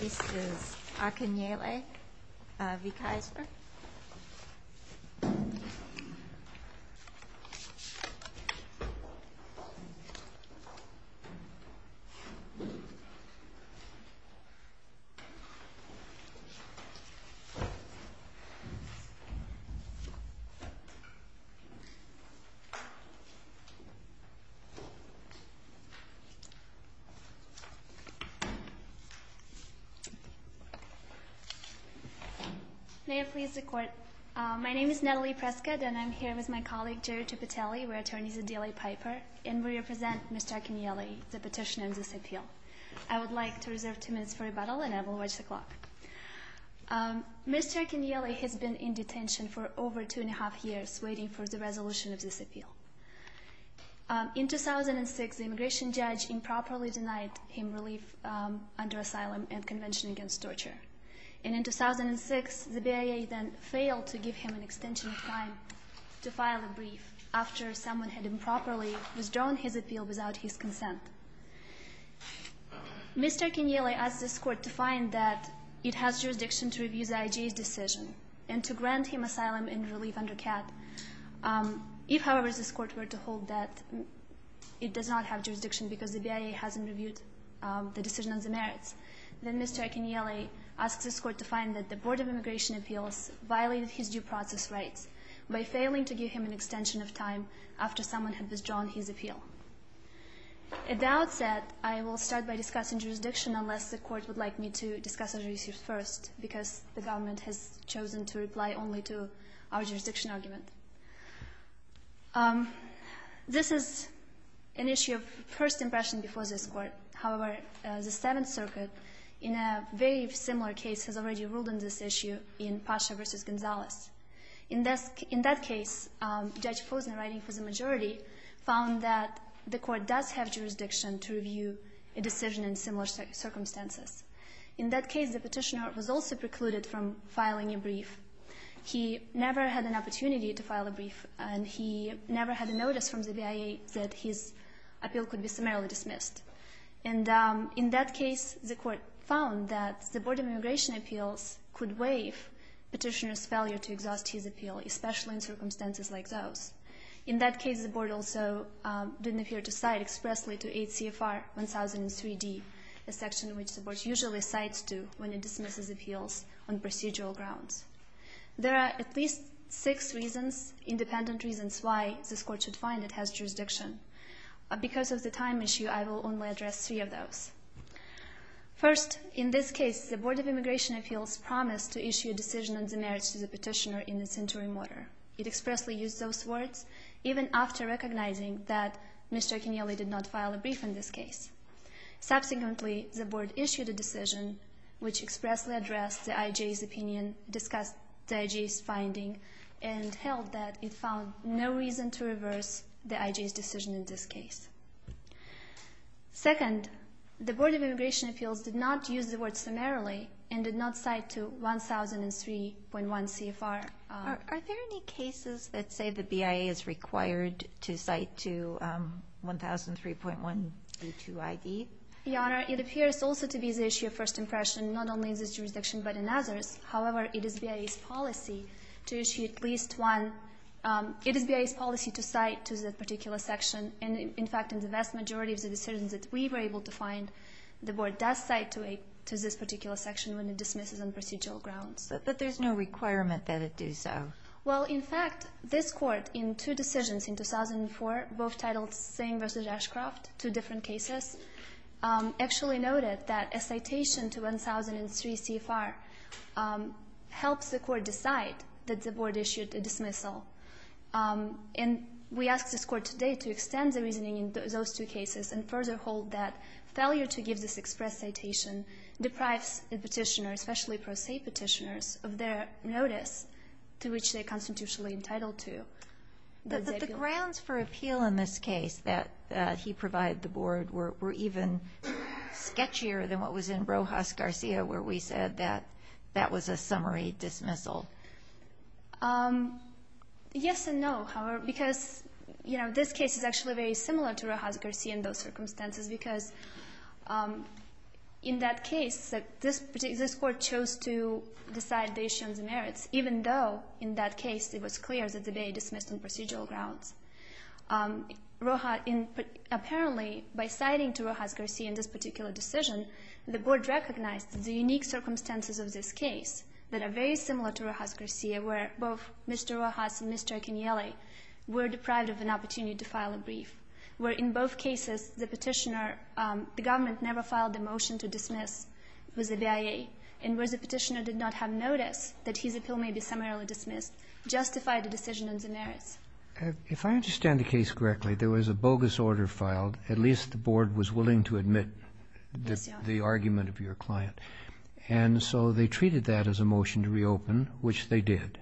This is Akinyele v. Kaisper May I please the court? My name is Natalie Prescott and I'm here with my colleague Jerry Tripitelli, we're attorneys at DLA Piper, and we represent Mr. Akinyele, the petitioner of this appeal. I would like to reserve two minutes for rebuttal and I will watch the clock. Mr. Akinyele has been in detention for over two and a half years waiting for the resolution of this appeal. In 2006 the immigration judge improperly denied him relief under asylum and convention against torture. And in 2006 the BIA then failed to give him an extension of time to file a brief after someone had improperly withdrawn his appeal without his consent. Mr. Akinyele asked this court to find that it has jurisdiction to review the IJ's decision and to grant him asylum and relief under CAT. If, however, this court were to hold that it does not have jurisdiction because the BIA hasn't reviewed the decision on the merits, then Mr. Akinyele asks this court to find that the Board of Immigration Appeals violated his due process rights by failing to give him an extension of time after someone had withdrawn his appeal. At the outset I will start by discussing jurisdiction unless the court would like me to discuss it first because the government has chosen to reply only to our jurisdiction argument. This is an issue of first impression before this Court. However, the Seventh Circuit in a very similar case has already ruled on this issue in Pasha v. Gonzales. In that case, Judge Fosen, writing for the majority, found that the Court does have jurisdiction to review a decision in similar circumstances. In that case, the Petitioner was also precluded from filing a brief. He never had an opportunity to file a brief, and he never had a notice from the BIA that his appeal could be summarily dismissed. And in that case, the Court found that the Board of Immigration Appeals could waive Petitioner's failure to exhaust his appeal, especially in circumstances like those. In that case, the Board also didn't appear to cite expressly to 8 CFR 1003D, a section which the Board usually cites to when it dismisses appeals on procedural grounds. There are at least six reasons, independent reasons, why this Court should find it has jurisdiction. Because of the time issue, I will only address three of those. First, in this case, the Board of Immigration Appeals promised to issue a decision on the merits to the Petitioner in its interim order. It expressly used those words, even after recognizing that Mr. Acinelli did not file a brief in this case. Subsequently, the Board issued a decision which expressly addressed the IJA's opinion, discussed the IJA's finding, and held that it found no reason to reverse the IJA's decision in this case. Second, the Board of Immigration Appeals did not use the word summarily and did not cite to 1003.1 CFR. Are there any cases that say the BIA is required to cite to 1003.1A2ID? Your Honor, it appears also to be the issue of first impression, not only in this jurisdiction but in others. However, it is BIA's policy to issue at least one. It is BIA's policy to cite to that particular section. In fact, in the vast majority of the decisions that we were able to find, the Board does cite to this particular section when it dismisses on procedural grounds. But there's no requirement that it do so. Well, in fact, this Court in two decisions in 2004, both titled Singh v. Ashcroft, two different cases, actually noted that a citation to 1003 CFR helps the Court decide that the Board issued a dismissal. And we ask this Court today to extend the reasoning in those two cases and further hold that failure to give this express citation deprives a petitioner, especially pro se petitioners, of their notice to which they are constitutionally entitled to. But the grounds for appeal in this case that he provided the Board were even sketchier than what was in Rojas Garcia where we said that that was a summary dismissal. Yes and no, because, you know, this case is actually very similar to Rojas Garcia in those circumstances because in that case, this Court chose to decide the issuance of merits, even though in that case it was clear that the debate dismissed on procedural grounds. Apparently, by citing to Rojas Garcia in this particular decision, the Board recognized the unique circumstances of this case that are very similar to Rojas Garcia where both Mr. Rojas and Mr. Acconielli were deprived of an opportunity to file a brief, where in both cases the petitioner, the government never filed a motion to dismiss with the BIA, and where the petitioner did not have notice that his appeal may be summarily dismissed, justified the decision on the merits. If I understand the case correctly, there was a bogus order filed. At least the Board was willing to admit the argument of your client. And so they treated that as a motion to reopen, which they did.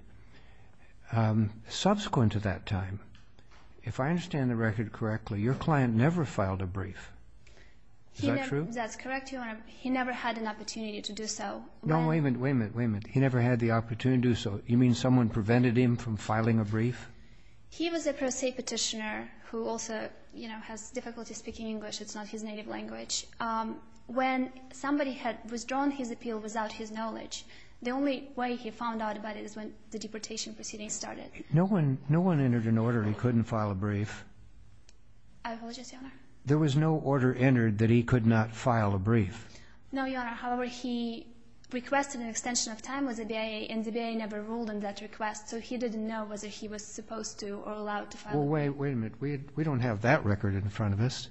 Subsequent to that time, if I understand the record correctly, your client never filed a brief. Is that true? That's correct, Your Honor. He never had an opportunity to do so. No, wait a minute, wait a minute, wait a minute. He never had the opportunity to do so. You mean someone prevented him from filing a brief? He was a pro se petitioner who also, you know, has difficulty speaking English. It's not his native language. When somebody had withdrawn his appeal without his knowledge, the only way he found out about it is when the deportation proceedings started. No one entered an order he couldn't file a brief? I apologize, Your Honor. There was no order entered that he could not file a brief? No, Your Honor. However, he requested an extension of time with the BIA, and the BIA never ruled on that request, so he didn't know whether he was supposed to or allowed to file a brief. Well, wait a minute. We don't have that record in front of us.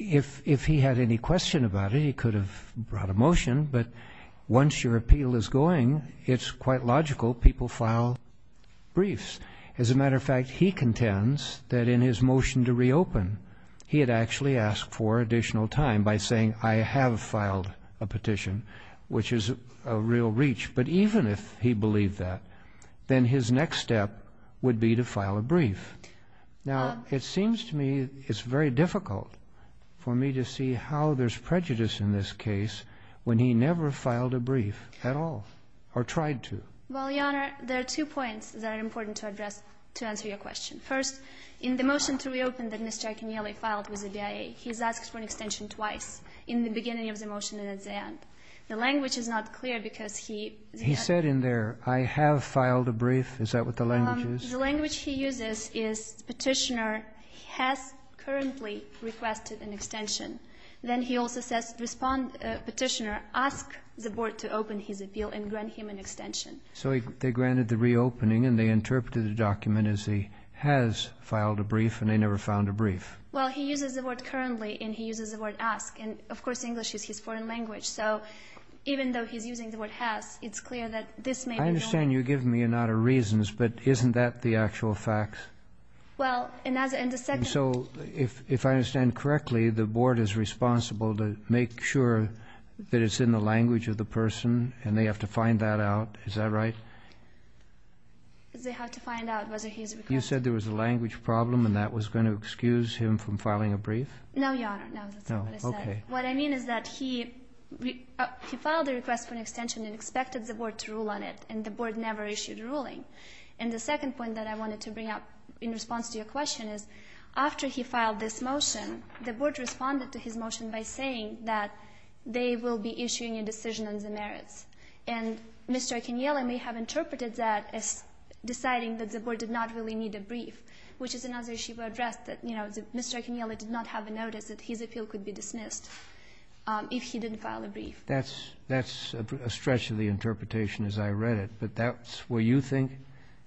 If he had any question about it, he could have brought a motion, but once your appeal is going, it's quite logical people file briefs. As a matter of fact, he contends that in his motion to reopen, he had actually asked for additional time by saying, I have filed a petition, which is a real reach. But even if he believed that, then his next step would be to file a brief. Now, it seems to me it's very difficult for me to see how there's prejudice in this case when he never filed a brief at all or tried to. Well, Your Honor, there are two points that are important to address to answer your question. First, in the motion to reopen that Mr. Iaconelli filed with the BIA, he's asked for an extension twice, in the beginning of the motion and at the end. The language is not clear because he said in there, I have filed a brief. Is that what the language is? The language he uses is Petitioner has currently requested an extension. Then he also says Petitioner ask the Board to open his appeal and grant him an extension. So they granted the reopening and they interpreted the document as he has filed a brief and they never filed a brief. Well, he uses the word currently and he uses the word ask. And, of course, English is his foreign language. So even though he's using the word has, it's clear that this may be wrong. I understand you're giving me a lot of reasons, but isn't that the actual facts? Well, in the second… So if I understand correctly, the Board is responsible to make sure that it's in the language of the person and they have to find that out, is that right? They have to find out whether he's requested… You said there was a language problem and that was going to excuse him from filing a brief? No, Your Honor, no, that's not what I said. No, okay. What I mean is that he filed a request for an extension and expected the Board to rule on it and the Board never issued a ruling. And the second point that I wanted to bring up in response to your question is after he filed this motion, the Board responded to his motion by saying that they will be issuing a decision on the merits. And Mr. Akinyele may have interpreted that as deciding that the Board did not really need a brief, which is another issue we addressed that, you know, Mr. Akinyele did not have a notice that his appeal could be dismissed if he didn't file a brief. That's a stretch of the interpretation as I read it, but that's what you think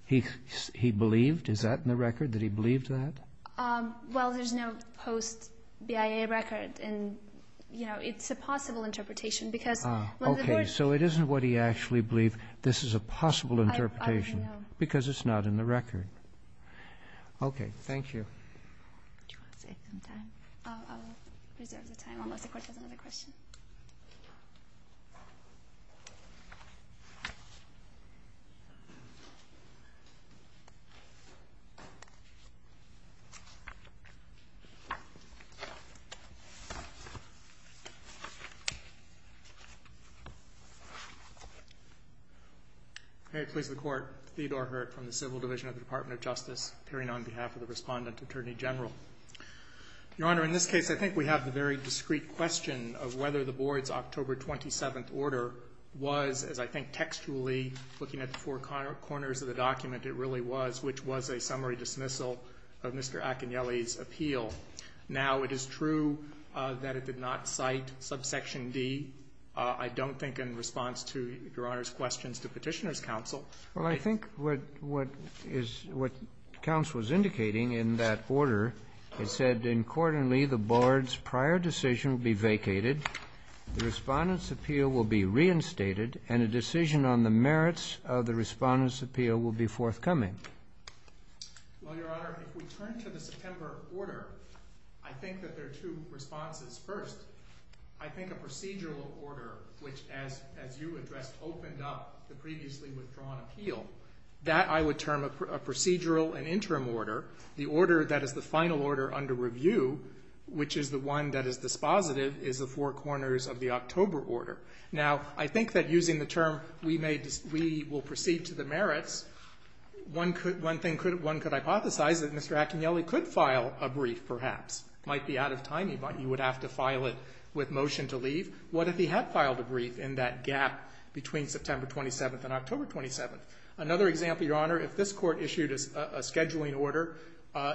he believed? Is that in the record that he believed that? Well, there's no post-BIA record and, you know, it's a possible interpretation because when the Board… Okay, so it isn't what he actually believed. This is a possible interpretation because it's not in the record. Okay, thank you. Do you want to save some time? I'll reserve the time unless the Court has another question. May it please the Court. Theodore Hurt from the Civil Division of the Department of Justice appearing on behalf of the Respondent Attorney General. Your Honor, in this case, I think we have the very discreet question of whether the Board's October 27th order was, as I think textually, looking at the four corners of the document, it really was, which was a summary dismissal of Mr. Akinyele's appeal. Now, it is true that it did not cite subsection D. I don't think in response to Your Honor's questions to Petitioner's counsel… Well, I think what counsel was indicating in that order, it said, Incordingly, the Board's prior decision will be vacated, the Respondent's appeal will be reinstated, and a decision on the merits of the Respondent's appeal will be forthcoming. Well, Your Honor, if we turn to the September order, I think that there are two responses. First, I think a procedural order, which, as you addressed, opened up the previously withdrawn appeal, that I would term a procedural and interim order. The order that is the final order under review, which is the one that is dispositive, is the four corners of the October order. Now, I think that using the term, We will proceed to the merits, one could hypothesize that Mr. Akinyele could file a brief, perhaps. It might be out of time. He would have to file it with motion to leave. What if he had filed a brief in that gap between September 27th and October 27th? Another example, Your Honor, if this Court issued a scheduling order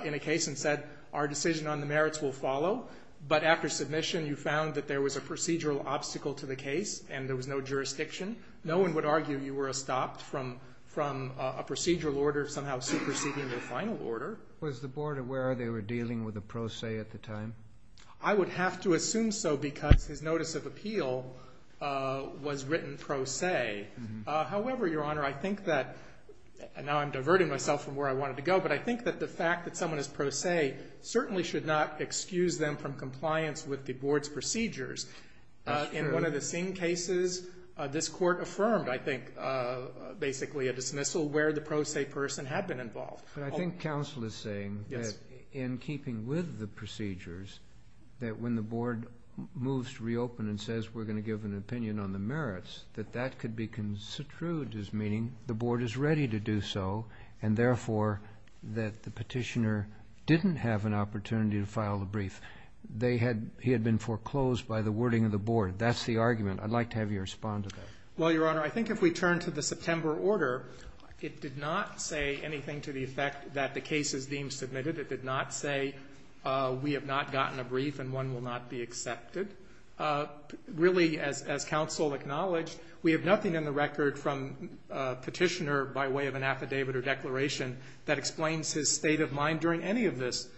in a case and said, Our decision on the merits will follow, but after submission you found that there was a procedural obstacle to the case and there was no jurisdiction, no one would argue you were stopped from a procedural order somehow superseding the final order. Was the Board aware they were dealing with a pro se at the time? I would have to assume so because his notice of appeal was written pro se. However, Your Honor, I think that, and now I'm diverting myself from where I wanted to go, but I think that the fact that someone is pro se certainly should not excuse them from compliance with the Board's procedures. In one of the Singh cases, this Court affirmed, I think, basically a dismissal where the pro se person had been involved. But I think counsel is saying that in keeping with the procedures, that when the Board moves to reopen and says we're going to give an opinion on the merits, that that could be construed as meaning the Board is ready to do so and, therefore, that the petitioner didn't have an opportunity to file a brief. He had been foreclosed by the wording of the Board. That's the argument. I'd like to have you respond to that. Well, Your Honor, I think if we turn to the September order, it did not say anything to the effect that the case is deemed submitted. It did not say we have not gotten a brief and one will not be accepted. Really, as counsel acknowledged, we have nothing in the record from petitioner by way of an affidavit or declaration that explains his state of mind during any of this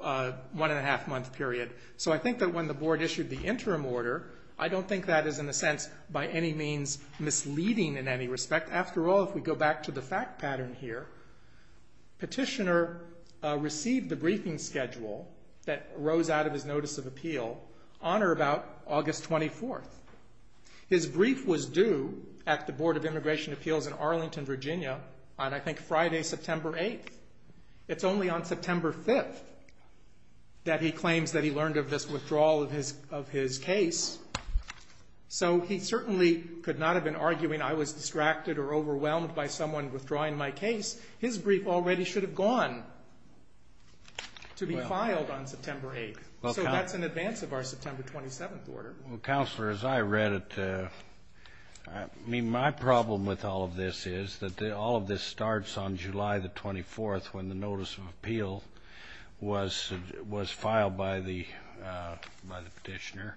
one-and-a-half-month period. So I think that when the Board issued the interim order, I don't think that is, in a sense, by any means misleading in any respect. After all, if we go back to the fact pattern here, petitioner received the briefing schedule that rose out of his notice of appeal on or about August 24th. His brief was due at the Board of Immigration Appeals in Arlington, Virginia, on, I think, Friday, September 8th. It's only on September 5th that he claims that he learned of this withdrawal of his case. So he certainly could not have been arguing I was distracted or overwhelmed by someone withdrawing my case. His brief already should have gone to be filed on September 8th. So that's in advance of our September 27th order. Well, Counselor, as I read it, I mean, my problem with all of this is that all of this starts on July the 24th when the notice of appeal was filed by the petitioner.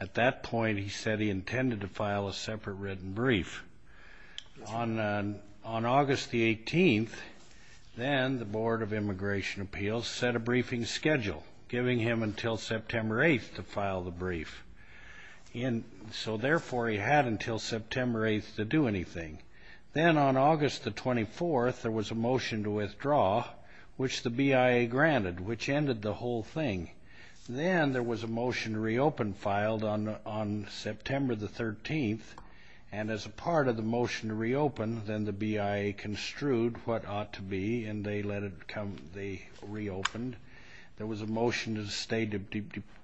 At that point, he said he intended to file a separate written brief. On August the 18th, then the Board of Immigration Appeals set a briefing schedule, giving him until September 8th to file the brief. So, therefore, he had until September 8th to do anything. Then on August the 24th, there was a motion to withdraw, which the BIA granted, which ended the whole thing. Then there was a motion to reopen filed on September the 13th, and as a part of the motion to reopen, then the BIA construed what ought to be, and they let it come, they reopened. There was a motion to stay to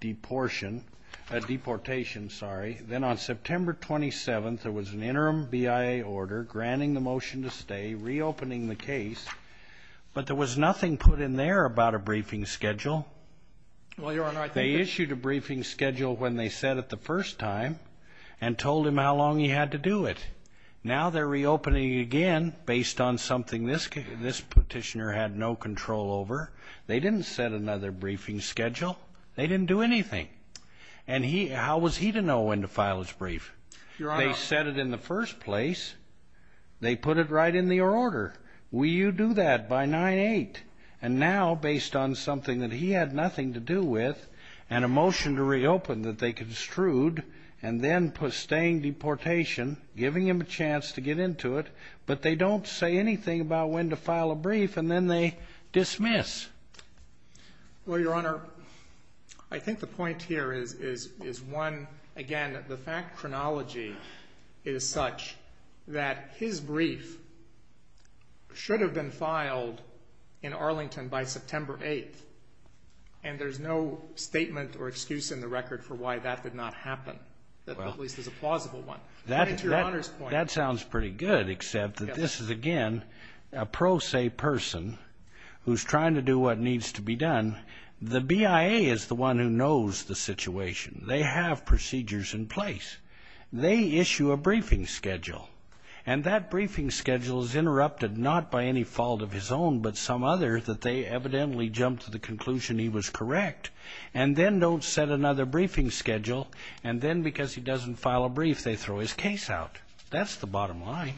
deportation. Then on September 27th, there was an interim BIA order granting the motion to stay, reopening the case, but there was nothing put in there about a briefing schedule. They issued a briefing schedule when they said it the first time and told him how long he had to do it. Now they're reopening again based on something this petitioner had no control over. They didn't set another briefing schedule. They didn't do anything. And how was he to know when to file his brief? Your Honor. They said it in the first place. They put it right in the order. Will you do that by 9-8? And now, based on something that he had nothing to do with and a motion to reopen that they construed, and then staying deportation, giving him a chance to get into it, but they don't say anything about when to file a brief, and then they dismiss. Well, Your Honor, I think the point here is one, again, the fact chronology is such that his brief should have been filed in Arlington by September 8th, and there's no statement or excuse in the record for why that did not happen, at least as a plausible one. That sounds pretty good, except that this is, again, a pro se person who's trying to do what needs to be done. The BIA is the one who knows the situation. They have procedures in place. They issue a briefing schedule, and that briefing schedule is interrupted not by any fault of his own, but some other that they evidently jumped to the conclusion he was correct, and then don't set another briefing schedule, and then because he doesn't file a brief, they throw his case out. That's the bottom line.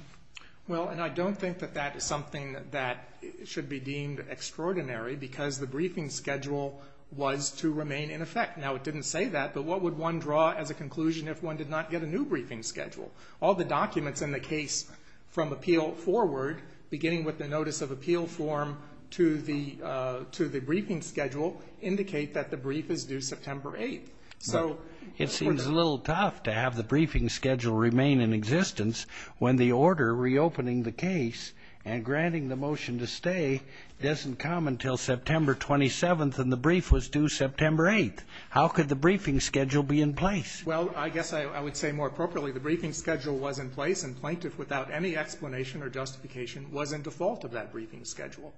Well, and I don't think that that is something that should be deemed extraordinary because the briefing schedule was to remain in effect. Now, it didn't say that, but what would one draw as a conclusion if one did not get a new briefing schedule? All the documents in the case from appeal forward, beginning with the notice of appeal form to the briefing schedule, indicate that the brief is due September 8th. So it seems a little tough to have the briefing schedule remain in existence when the order reopening the case and granting the motion to stay doesn't come until September 27th and the brief was due September 8th. How could the briefing schedule be in place? Well, I guess I would say more appropriately, the briefing schedule was in place, and Plaintiff, without any explanation or justification, was in default of that briefing schedule.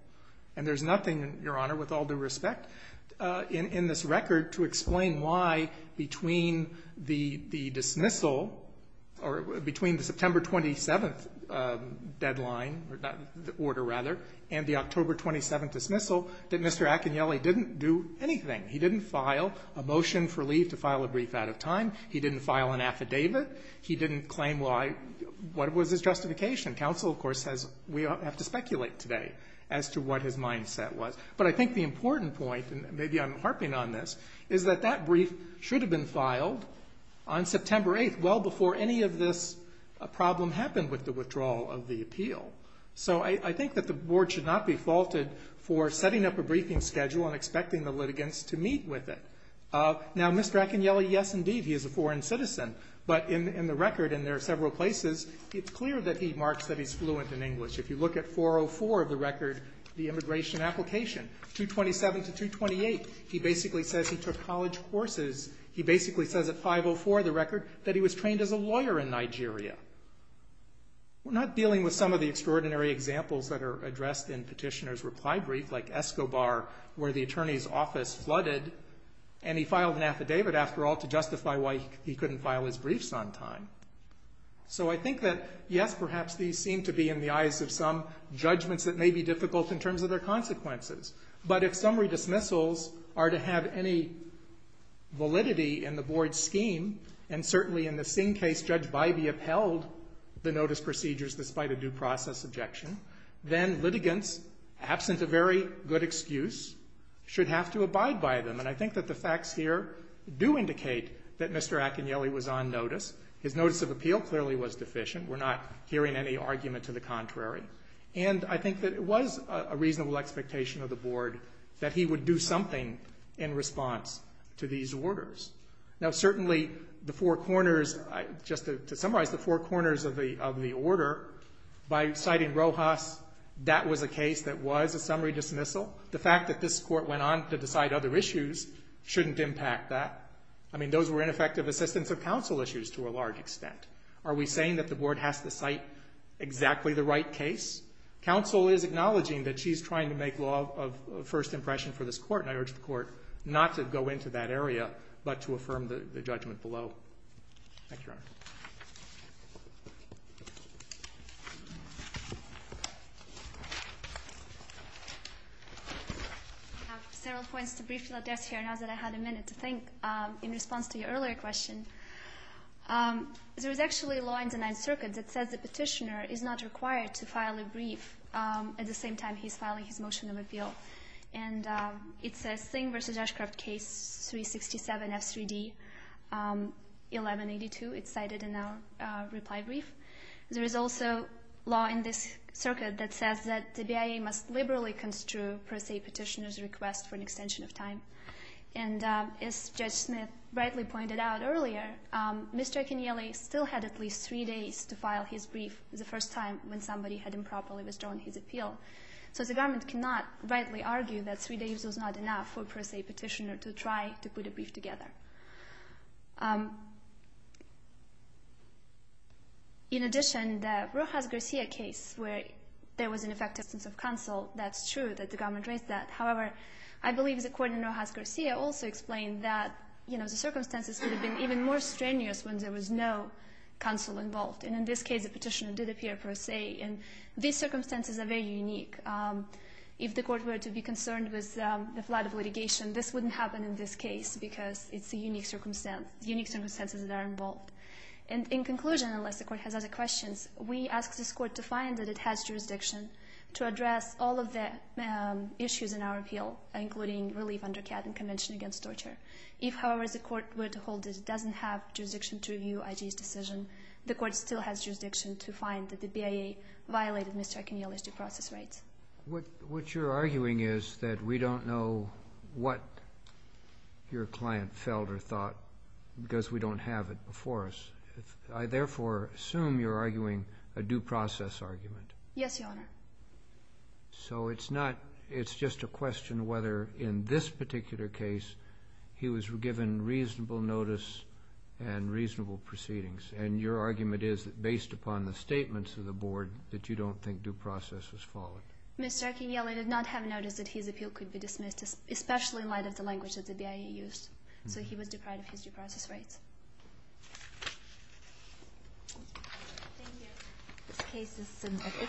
And there's nothing, Your Honor, with all due respect, in this record to explain why between the dismissal or between the September 27th deadline, the order rather, and the October 27th dismissal, that Mr. Acagnelli didn't do anything. He didn't file a motion for leave to file a brief out of time. He didn't file an affidavit. He didn't claim what was his justification. Counsel, of course, says we have to speculate today as to what his mindset was. But I think the important point, and maybe I'm harping on this, is that that brief should have been filed on September 8th, well before any of this problem happened with the withdrawal of the appeal. So I think that the Board should not be faulted for setting up a briefing schedule and expecting the litigants to meet with it. Now, Mr. Acagnelli, yes, indeed, he is a foreign citizen, but in the record, and there are several places, it's clear that he marks that he's fluent in English. If you look at 404 of the record, the immigration application, 227 to 228, he basically says he took college courses. He basically says at 504 of the record that he was trained as a lawyer in Nigeria. We're not dealing with some of the extraordinary examples that are addressed in petitioner's reply brief, like Escobar, where the attorney's office flooded, and he filed an affidavit, after all, to justify why he couldn't file his briefs on time. So I think that, yes, perhaps these seem to be, in the eyes of some, judgments that may be difficult in terms of their consequences. But if summary dismissals are to have any validity in the Board's scheme, and certainly in the Singh case, Judge Bybee upheld the notice procedures despite a due process objection, then litigants, absent a very good excuse, should have to abide by them. And I think that the facts here do indicate that Mr. Acagnelli was on notice. His notice of appeal clearly was deficient. We're not hearing any argument to the contrary. And I think that it was a reasonable expectation of the Board that he would do something in response to these orders. Now, certainly the four corners, just to summarize the four corners of the order, by citing Rojas, that was a case that was a summary dismissal. The fact that this Court went on to decide other issues shouldn't impact that. I mean, those were ineffective assistance of counsel issues to a large extent. Are we saying that the Board has to cite exactly the right case? Counsel is acknowledging that she's trying to make law of first impression for this Court, and I urge the Court not to go into that area but to affirm the judgment below. Thank you, Your Honor. I have several points to briefly address here now that I had a minute to think in response to your earlier question. There is actually a law in the Ninth Circuit that says the petitioner is not required to file a brief And it's a Singh v. Ashcroft case, 367F3D, 1182. It's cited in our reply brief. There is also law in this circuit that says that the BIA must liberally construe, per se, petitioner's request for an extension of time. And as Judge Smith rightly pointed out earlier, Mr. Acanielli still had at least three days to file his brief the first time when somebody had improperly withdrawn his appeal. So the government cannot rightly argue that three days was not enough for, per se, a petitioner to try to put a brief together. In addition, the Rojas-Garcia case where there was an effective absence of counsel, that's true that the government raised that. However, I believe the Court in Rojas-Garcia also explained that, you know, the circumstances could have been even more strenuous when there was no counsel involved. And these circumstances are very unique. If the Court were to be concerned with the flood of litigation, this wouldn't happen in this case because it's a unique circumstance, unique circumstances that are involved. And in conclusion, unless the Court has other questions, we ask this Court to find that it has jurisdiction to address all of the issues in our appeal, including relief under CAD and Convention Against Torture. If, however, the Court were to hold that it doesn't have jurisdiction to review IG's decision, the Court still has jurisdiction to find that the BIA violated Mr. Akiniela's due process rights. What you're arguing is that we don't know what your client felt or thought because we don't have it before us. I therefore assume you're arguing a due process argument. Yes, Your Honor. So it's not, it's just a question whether in this particular case he was given reasonable notice and reasonable proceedings. And your argument is that based upon the statements of the Board that you don't think due process was followed. Mr. Akiniela did not have notice that his appeal could be dismissed, especially in light of the language that the BIA used. So he was deprived of his due process rights. Thank you. This case is submitted.